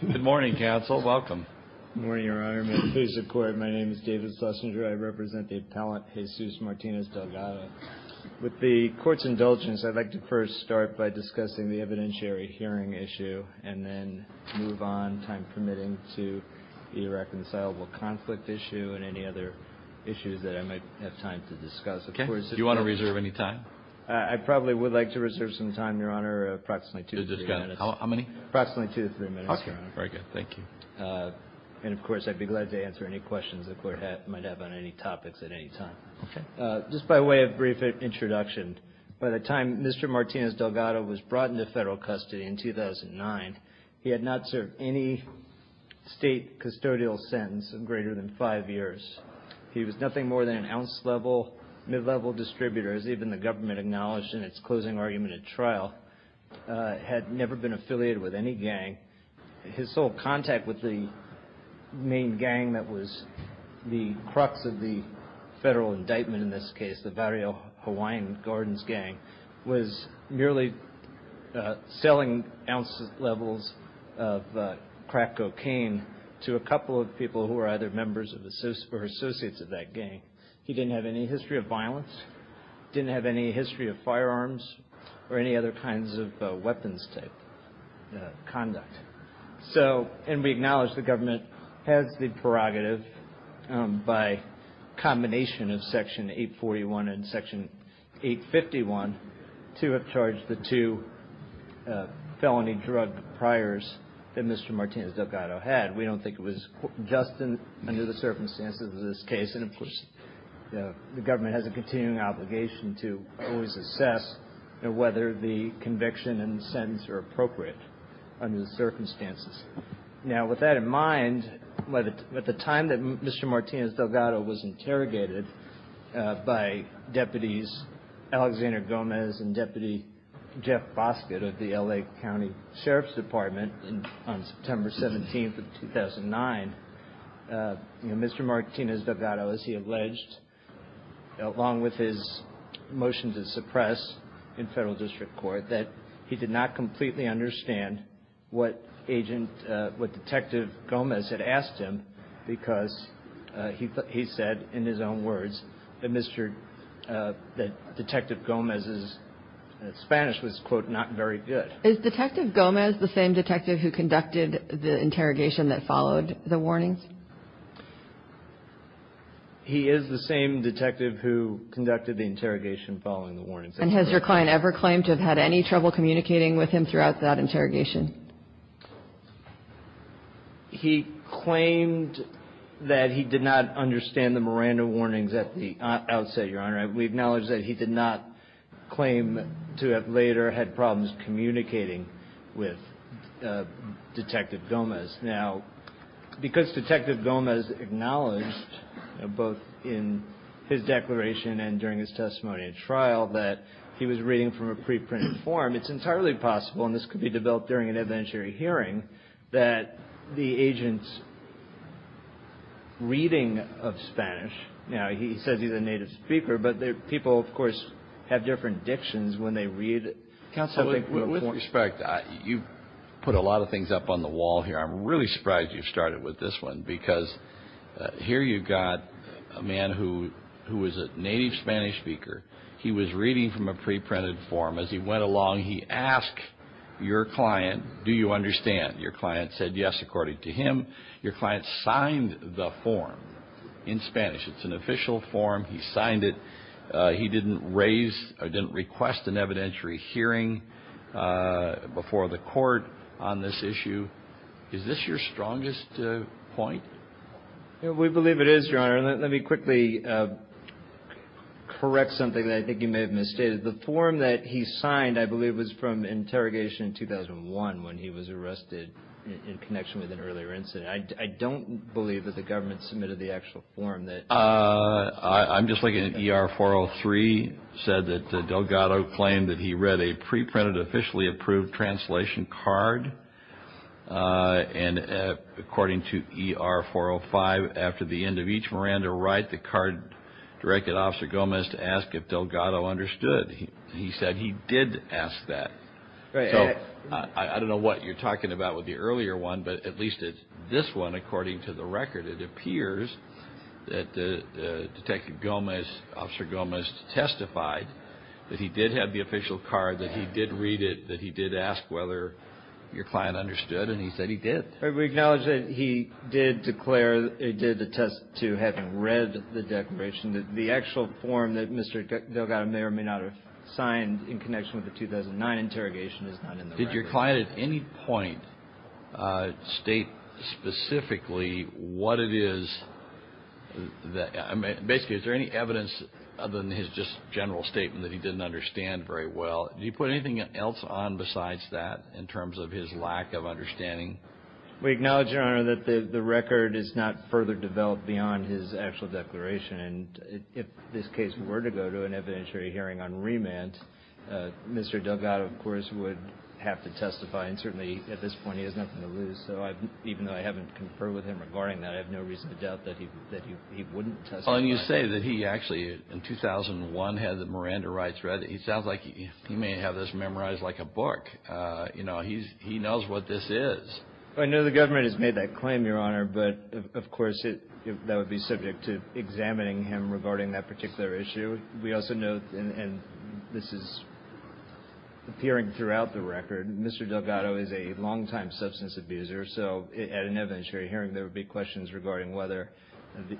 Good morning, counsel. Welcome. Good morning, Your Honor. May it please the Court, my name is David Sussinger. I represent the appellant Jesus Martinez Delgado. With the Court's indulgence, I'd like to first start by discussing the evidentiary hearing issue and then move on, time permitting, to the reconcilable conflict issue and any other issues that I might have time to discuss. Okay. Do you want to reserve any time? I probably would like to reserve some time, Your Honor, approximately two to three minutes. How many? Approximately two to three minutes, Your Honor. Okay. Very good. Thank you. And, of course, I'd be glad to answer any questions the Court might have on any topics at any time. Okay. Just by way of brief introduction, by the time Mr. Martinez Delgado was brought into federal custody in 2009, he had not served any state custodial sentence of greater than five years. He was nothing more than an ounce-level, mid-level distributor, as even the government acknowledged in its closing argument at trial, had never been affiliated with any gang. His sole contact with the main gang that was the crux of the federal indictment in this case, the Barrio Hawaiian Gardens gang, was merely selling ounce-levels of crack cocaine to a couple of people who were either members or associates of that gang. He didn't have any history of violence, didn't have any history of firearms or any other kinds of weapons type conduct. So, and we acknowledge the government has the prerogative by combination of Section 841 and Section 851 to have charged the two felony drug priors that Mr. Martinez Delgado had. We don't think it was just under the circumstances of this case. And, of course, the government has a continuing obligation to always assess whether the conviction and the sentence are appropriate under the circumstances. Now, with that in mind, at the time that Mr. Martinez Delgado was interrogated by Deputies Alexander Gomez and Deputy Jeff Boscott of the L.A. County Sheriff's Department on September 17th of 2009, Mr. Martinez Delgado, as he alleged, along with his motion to suppress in federal district court, that he did not completely understand what agent, what Detective Gomez had asked him, because he said in his own words that Detective Gomez's Spanish was, quote, not very good. Is Detective Gomez the same detective who conducted the interrogation that followed the warnings? He is the same detective who conducted the interrogation following the warnings. And has your client ever claimed to have had any trouble communicating with him throughout that interrogation? He claimed that he did not understand the Miranda warnings at the outset, Your Honor. We acknowledge that he did not claim to have later had problems communicating with Detective Gomez. Now, because Detective Gomez acknowledged, both in his declaration and during his testimony at trial, that he was reading from a preprinted form, it's entirely possible, and this could be developed during an evidentiary hearing, that the agent's reading of Spanish, now, he says he's a native speaker, but people, of course, have different dictions when they read. With respect, you've put a lot of things up on the wall here. I'm really surprised you've started with this one, because here you've got a man who is a native Spanish speaker. He was reading from a preprinted form. As he went along, he asked your client, do you understand? Your client said yes, according to him. Your client signed the form in Spanish. It's an official form. He signed it. He didn't raise or didn't request an evidentiary hearing before the court on this issue. Is this your strongest point? We believe it is, Your Honor. Let me quickly correct something that I think you may have misstated. The form that he signed, I believe, was from interrogation in 2001, when he was arrested in connection with an earlier incident. I don't believe that the government submitted the actual form. I'm just looking at ER-403, said that Delgado claimed that he read a preprinted, officially approved translation card. According to ER-405, after the end of each Miranda write, the card directed Officer Gomez to ask if Delgado understood. He said he did ask that. I don't know what you're talking about with the earlier one, but at least this one, according to the record, it appears that Detective Gomez, Officer Gomez testified that he did have the official card, that he did read it, that he did ask whether your client understood, and he said he did. We acknowledge that he did attest to having read the declaration. The actual form that Mr. Delgado may or may not have signed in connection with the 2009 interrogation is not in the record. Did your client at any point state specifically what it is that – basically, is there any evidence other than his just general statement that he didn't understand very well? Did he put anything else on besides that in terms of his lack of understanding? We acknowledge, Your Honor, that the record is not further developed beyond his actual declaration, and if this case were to go to an evidentiary hearing on remand, Mr. Delgado, of course, would have to testify, and certainly at this point he has nothing to lose. So even though I haven't conferred with him regarding that, I have no reason to doubt that he wouldn't testify. Well, and you say that he actually, in 2001, had the Miranda rights read. It sounds like he may have this memorized like a book. You know, he knows what this is. I know the government has made that claim, Your Honor, but of course that would be subject to examining him regarding that particular issue. We also know – and this is appearing throughout the record – Mr. Delgado is a longtime substance abuser, so at an evidentiary hearing there would be questions regarding whether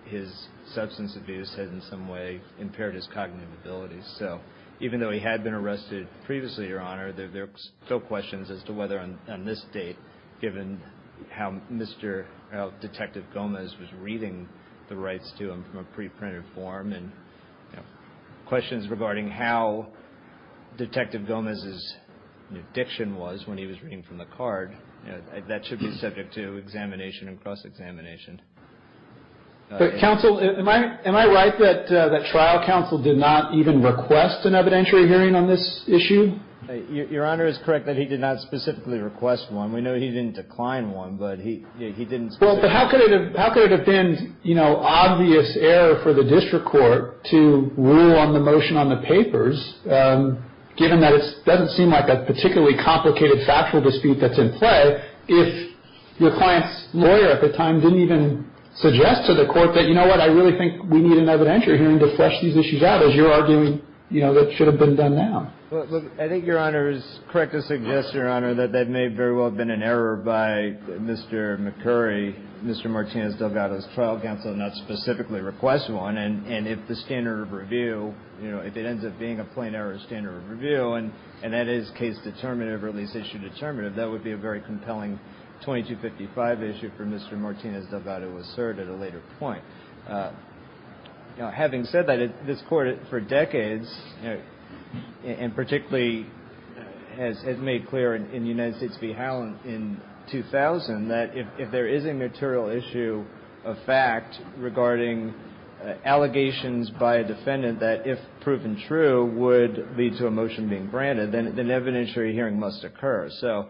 his substance abuse had in some way impaired his cognitive abilities. So even though he had been arrested previously, Your Honor, there are still questions as to whether on this date, given how Mr. Detective Gomez was reading the rights to him from a pre-printed form, and questions regarding how Detective Gomez's diction was when he was reading from the card. That should be subject to examination and cross-examination. Counsel, am I right that trial counsel did not even request an evidentiary hearing on this issue? Your Honor is correct that he did not specifically request one. We know he didn't decline one, but he didn't specifically. Well, but how could it have been, you know, obvious error for the district court to rule on the motion on the papers, given that it doesn't seem like a particularly complicated factual dispute that's in play, if your client's lawyer at the time didn't even suggest to the court that, you know what, I really think we need an evidentiary hearing to flesh these issues out, as you're arguing, you know, that should have been done now? Well, look, I think Your Honor is correct to suggest, Your Honor, that that may very well have been an error by Mr. McCurry, Mr. Martinez Delgado's trial counsel, to not specifically request one. And if the standard of review, you know, if it ends up being a plain error standard of review, and that is case determinative or at least issue determinative, that would be a very compelling 2255 issue for Mr. Martinez Delgado to assert at a later point. Now, having said that, this Court for decades, you know, and particularly has made clear in the United States v. Howell in 2000, that if there is a material issue of fact regarding allegations by a defendant that, if proven true, would lead to a motion being granted, then an evidentiary hearing must occur. So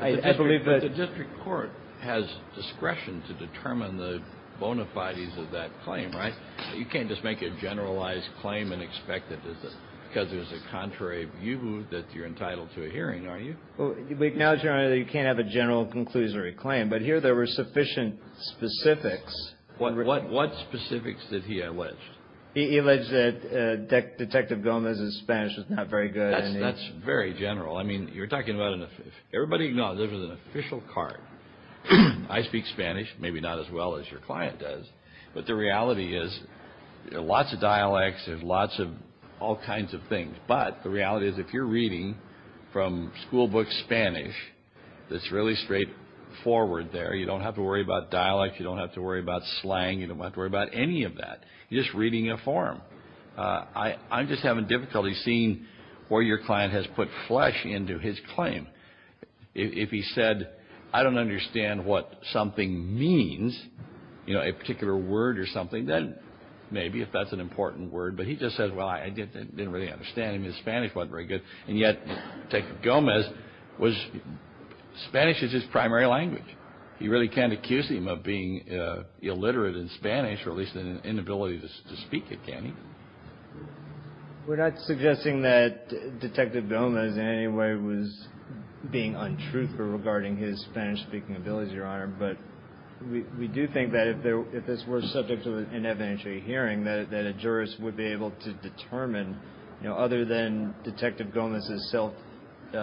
I believe that But the district court has discretion to determine the bona fides of that claim, right? You can't just make a generalized claim and expect that there's a, because there's a contrary view that you're entitled to a hearing, are you? Well, we acknowledge, Your Honor, that you can't have a general conclusory claim. But here there were sufficient specifics. What specifics did he allege? He alleged that Detective Gomez's Spanish was not very good. That's very general. I mean, you're talking about an, everybody knows this is an official card. I speak Spanish. Maybe not as well as your client does. But the reality is there are lots of dialects. There's lots of all kinds of things. But the reality is if you're reading from schoolbook Spanish, it's really straightforward there. You don't have to worry about dialect. You don't have to worry about slang. You don't have to worry about any of that. You're just reading a form. I'm just having difficulty seeing where your client has put flesh into his claim. If he said, I don't understand what something means, you know, a particular word or something, then maybe if that's an important word. But he just said, well, I didn't really understand him. His Spanish wasn't very good. And yet Detective Gomez was, Spanish is his primary language. He really can't accuse him of being illiterate in Spanish, or at least an inability to speak it, can he? We're not suggesting that Detective Gomez in any way was being untruthful regarding his Spanish-speaking abilities, Your Honor, but we do think that if this were subject to an evidentiary hearing, that a jurist would be able to determine, you know, other than Detective Gomez's self-assessment.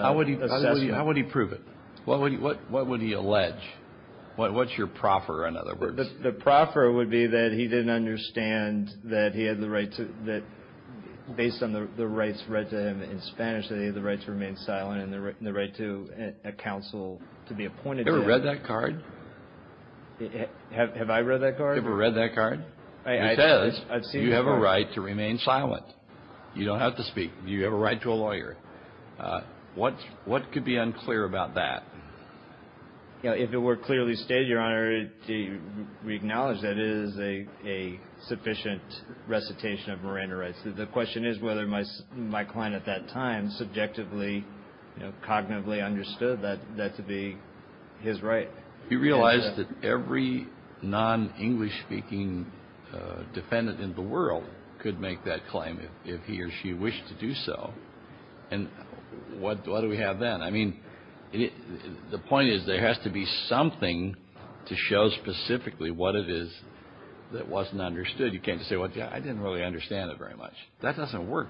How would he prove it? What would he allege? What's your proffer, in other words? The proffer would be that he didn't understand that he had the right to, that based on the rights read to him in Spanish, that he had the right to remain silent and the right to a counsel to be appointed to that. Have you ever read that card? Have I read that card? Have you ever read that card? It says, you have a right to remain silent. You don't have to speak. You have a right to a lawyer. What could be unclear about that? If it were clearly stated, Your Honor, we acknowledge that it is a sufficient recitation of Miranda rights. The question is whether my client at that time subjectively, cognitively understood that to be his right. He realized that every non-English-speaking defendant in the world could make that claim if he or she wished to do so. And what do we have then? I mean, the point is there has to be something to show specifically what it is that wasn't understood. You can't just say, well, I didn't really understand it very much. That doesn't work.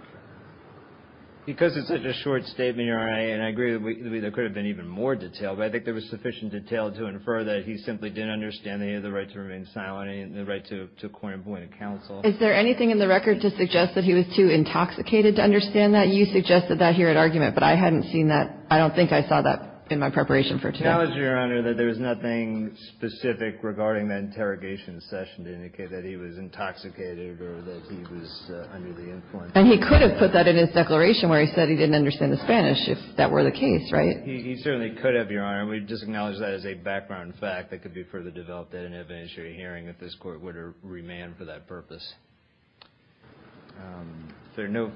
Because it's such a short statement, Your Honor, and I agree there could have been even more detail, but I think there was sufficient detail to infer that he simply didn't understand that he had the right to remain silent and the right to appoint a counsel. Is there anything in the record to suggest that he was too intoxicated to understand that? You suggested that here at argument, but I hadn't seen that. I don't think I saw that in my preparation for today. I acknowledge, Your Honor, that there was nothing specific regarding that interrogation session to indicate that he was intoxicated or that he was under the influence. And he could have put that in his declaration where he said he didn't understand the Spanish if that were the case, right? He certainly could have, Your Honor. We just acknowledge that as a background fact that could be further developed that an evidentiary hearing at this Court would have remanded for that purpose. If there are no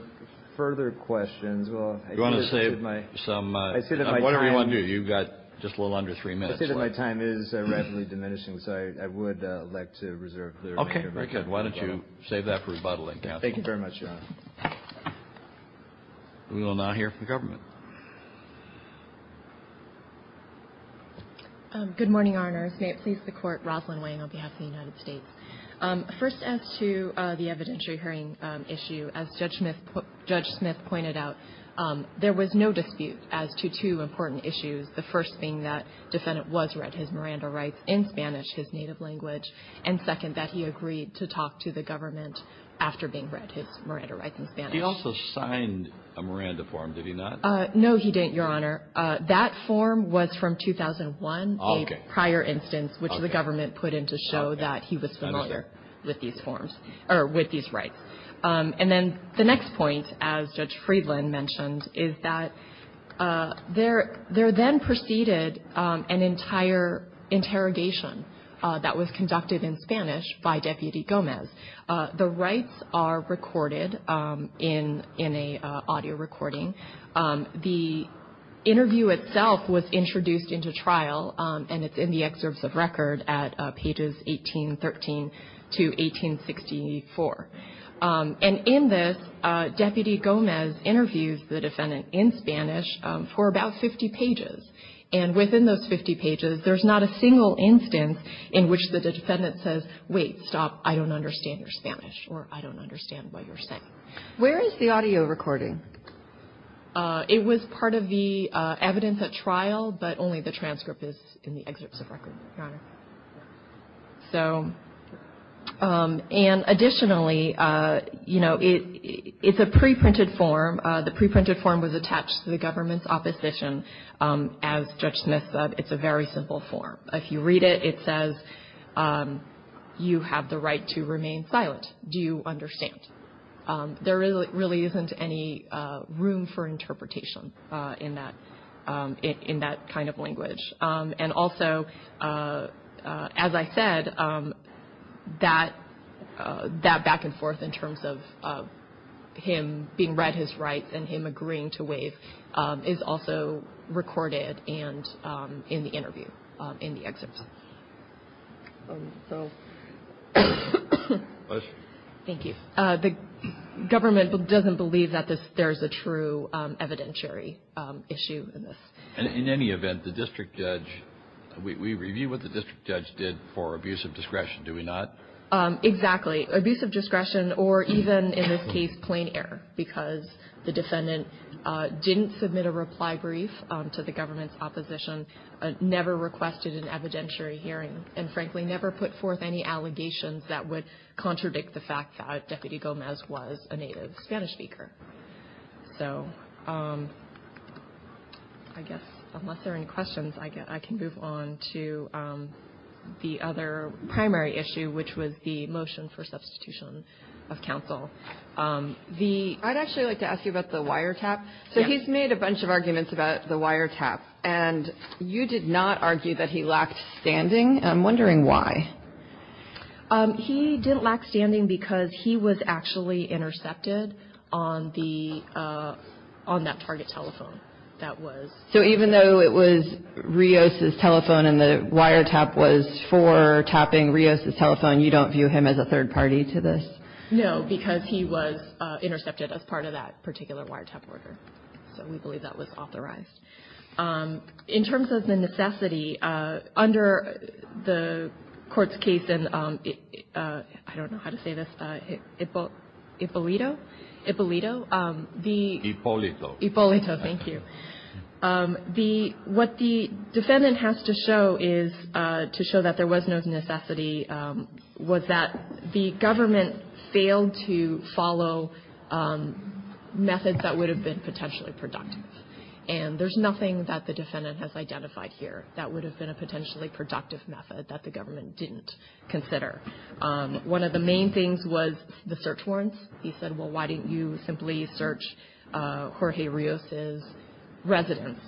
further questions, well, I think this is my time. You want to save some? I said that my time. Whatever you want to do. You've got just a little under three minutes left. I said that my time is rapidly diminishing, so I would like to reserve the remainder of my time. Very good. Why don't you save that for rebuttaling, counsel? Thank you very much, Your Honor. We will now hear from the government. Good morning, Your Honors. May it please the Court. Rosalyn Wang on behalf of the United States. First, as to the evidentiary hearing issue, as Judge Smith pointed out, there was no dispute as to two important issues, the first being that the defendant was read his Miranda rights in Spanish, his native language, and second, that he agreed to talk to the government after being read his Miranda rights in Spanish. He also signed a Miranda form, did he not? No, he didn't, Your Honor. That form was from 2001, a prior instance which the government put in to show that he was familiar with these rights. And then the next point, as Judge Friedland mentioned, is that there then preceded an entire interrogation that was conducted in Spanish by Deputy Gomez. The rights are recorded in an audio recording. The interview itself was introduced into trial, and it's in the excerpts of record at pages 1813 to 1864. And in this, Deputy Gomez interviews the defendant in Spanish for about 50 pages. And within those 50 pages, there's not a single instance in which the defendant says, wait, stop, I don't understand your Spanish or I don't understand what you're saying. Where is the audio recording? It was part of the evidence at trial, but only the transcript is in the excerpts of record, Your Honor. So, and additionally, you know, it's a preprinted form. The preprinted form was attached to the government's opposition. As Judge Smith said, it's a very simple form. If you read it, it says you have the right to remain silent. Do you understand? There really isn't any room for interpretation in that kind of language. And also, as I said, that back and forth in terms of him being read his rights and him agreeing to waive is also recorded in the interview, in the excerpts. Thank you. The government doesn't believe that there's a true evidentiary issue in this. In any event, the district judge, we review what the district judge did for abuse of discretion, do we not? Exactly. Abuse of discretion, or even in this case, plain error, because the defendant didn't submit a reply brief to the government's opposition, never requested an evidentiary hearing, and frankly, never put forth any allegations that would contradict the fact that Deputy Gomez was a native Spanish speaker. So I guess unless there are any questions, I can move on to the other primary issue, which was the motion for substitution of counsel. I'd actually like to ask you about the wiretap. So he's made a bunch of arguments about the wiretap, and you did not argue that he lacked standing. I'm wondering why. He didn't lack standing because he was actually intercepted on that target telephone. So even though it was Rios' telephone and the wiretap was for tapping Rios' telephone, you don't view him as a third party to this? No, because he was intercepted as part of that particular wiretap order. So we believe that was authorized. In terms of the necessity, under the court's case in, I don't know how to say this, Ippolito? Ippolito. Ippolito. Ippolito, thank you. What the defendant has to show is, to show that there was no necessity, was that the government failed to follow methods that would have been potentially productive. And there's nothing that the defendant has identified here that would have been a potentially productive method that the government didn't consider. One of the main things was the search warrants. He said, well, why didn't you simply search Jorge Rios' residence,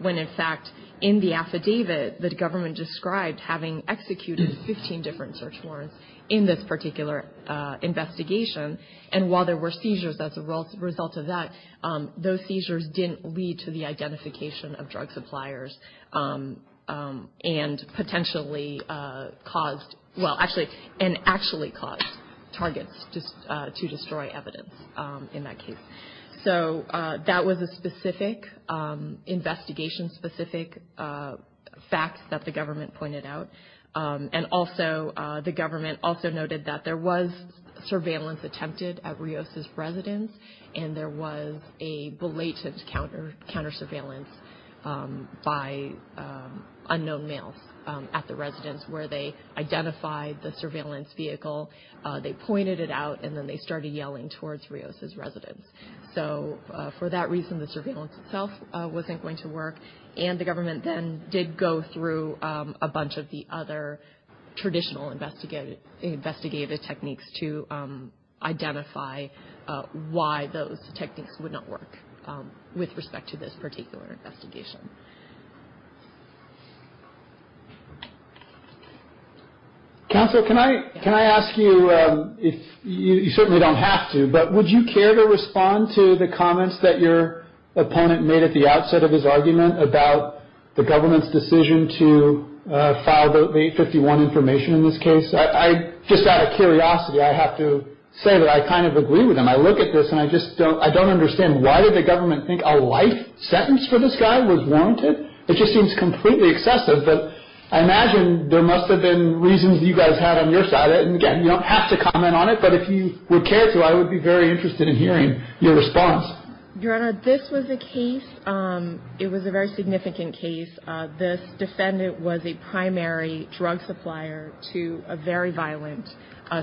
when in fact, in the affidavit, the government described having executed 15 different search warrants in this particular investigation. And while there were seizures as a result of that, those seizures didn't lead to the identification of drug suppliers and potentially caused, well, actually, and actually caused targets to destroy evidence in that case. So that was a specific, investigation-specific fact that the government pointed out. And also, the government also noted that there was surveillance attempted at Rios' residence, and there was a belated counter-surveillance by unknown males at the residence, where they identified the surveillance vehicle, they pointed it out, and then they started yelling towards Rios' residence. So for that reason, the surveillance itself wasn't going to work. And the government then did go through a bunch of the other traditional investigative techniques to identify why those techniques would not work with respect to this particular investigation. Counsel, can I ask you, you certainly don't have to, but would you care to respond to the comments that your opponent made at the outset of his argument about the government's decision to file the 851 information in this case? I just out of curiosity, I have to say that I kind of agree with him. I look at this, and I just don't understand. Why did the government think a life sentence for this guy was warranted? It just seems completely excessive. But I imagine there must have been reasons you guys had on your side. And again, you don't have to comment on it, but if you would care to, I would be very interested in hearing your response. Your Honor, this was a case, it was a very significant case. This defendant was a primary drug supplier to a very violent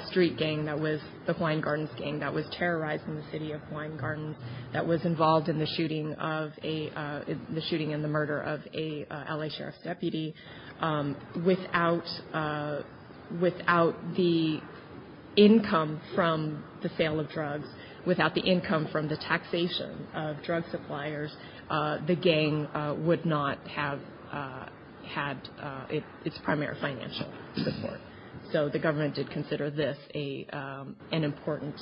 street gang that was the Hawaiian Gardens Gang that was terrorizing the city of Hawaiian Gardens, that was involved in the shooting and the murder of an L.A. Sheriff's deputy. Without the income from the sale of drugs, without the income from the taxation of drug suppliers, the gang would not have had its primary financial support. So the government did consider this an important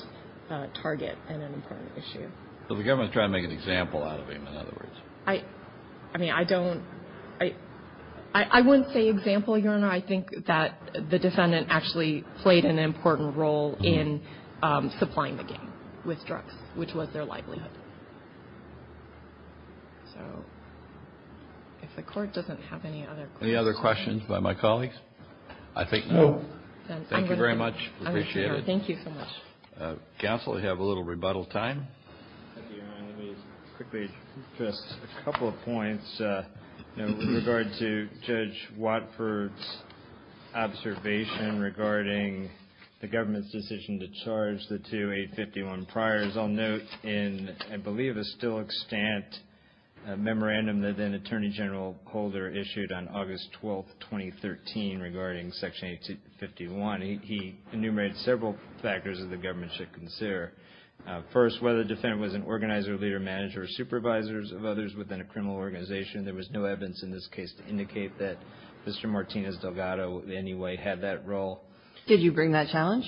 target and an important issue. So the government is trying to make an example out of him, in other words. I mean, I don't – I wouldn't say example, Your Honor. I think that the defendant actually played an important role in supplying the gang with drugs, which was their livelihood. So if the Court doesn't have any other questions. Any other questions by my colleagues? I think no. Thank you very much. Appreciate it. Thank you so much. Counsel, we have a little rebuttal time. Thank you, Your Honor. Let me just quickly address a couple of points in regard to Judge Watford's observation regarding the government's decision to charge the two 851 priors. I'll note in, I believe, a still extant memorandum that then-Attorney General Holder issued on August 12, 2013, regarding Section 851, he enumerated several factors that the government should consider. First, whether the defendant was an organizer, leader, manager, or supervisors of others within a criminal organization, there was no evidence in this case to indicate that Mr. Martinez-Delgado in any way had that role. Did you bring that challenge?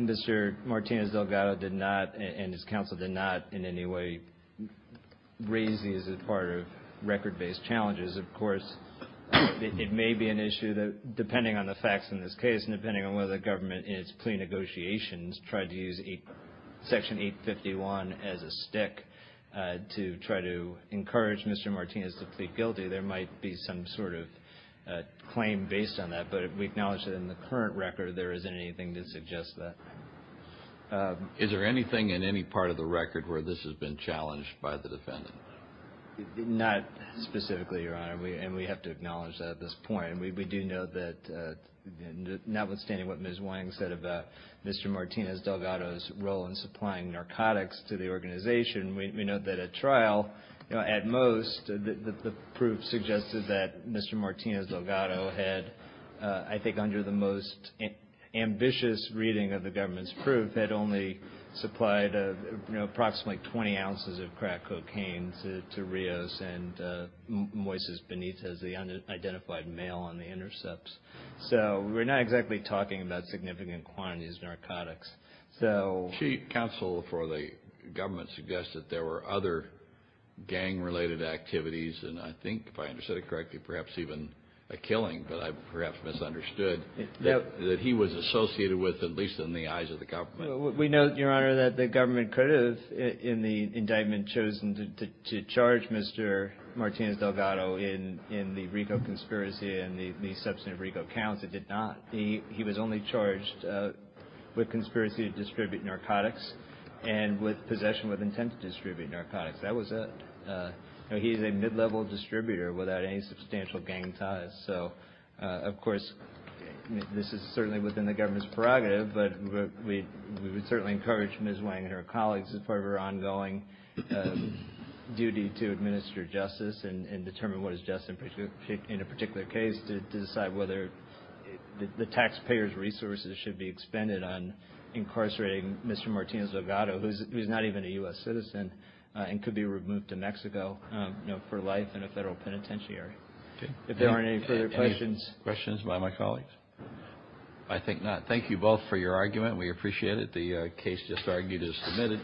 Mr. Martinez-Delgado did not, and his counsel did not in any way raise these as part of record-based challenges. Of course, it may be an issue that depending on the facts in this case and depending on whether the government in its plea negotiations tried to use Section 851 as a stick to try to encourage Mr. Martinez to plead guilty, there might be some sort of claim based on that, but we acknowledge that in the current record there isn't anything to suggest that. Is there anything in any part of the record where this has been challenged by the defendant? Not specifically, Your Honor, and we have to acknowledge that at this point. We do know that notwithstanding what Ms. Wang said about Mr. Martinez-Delgado's role in supplying narcotics to the organization, we know that at trial, at most, the proof suggested that Mr. Martinez-Delgado had, I think, under the most ambitious reading of the government's proof, had only supplied approximately 20 ounces of crack cocaine to Rios and Moises Benitez, the unidentified male on the intercepts. So we're not exactly talking about significant quantities of narcotics. Counsel for the government suggested there were other gang-related activities, and I think, if I understood it correctly, perhaps even a killing, but I perhaps misunderstood, that he was associated with at least in the eyes of the government. We know, Your Honor, that the government could have, in the indictment, chosen to charge Mr. Martinez-Delgado in the Rico conspiracy and the substance of Rico counts. It did not. He was only charged with conspiracy to distribute narcotics and with possession with intent to distribute narcotics. He is a mid-level distributor without any substantial gang ties. So, of course, this is certainly within the government's prerogative, but we would certainly encourage Ms. Wang and her colleagues as part of her ongoing duty to administer justice and determine what is just in a particular case to decide whether the taxpayer's resources should be expended on incarcerating Mr. Martinez-Delgado, who is not even a U.S. citizen and could be removed to Mexico for life in a federal penitentiary. If there aren't any further questions. Any questions by my colleagues? I think not. Thank you both for your argument. We appreciate it. The case just argued is submitted.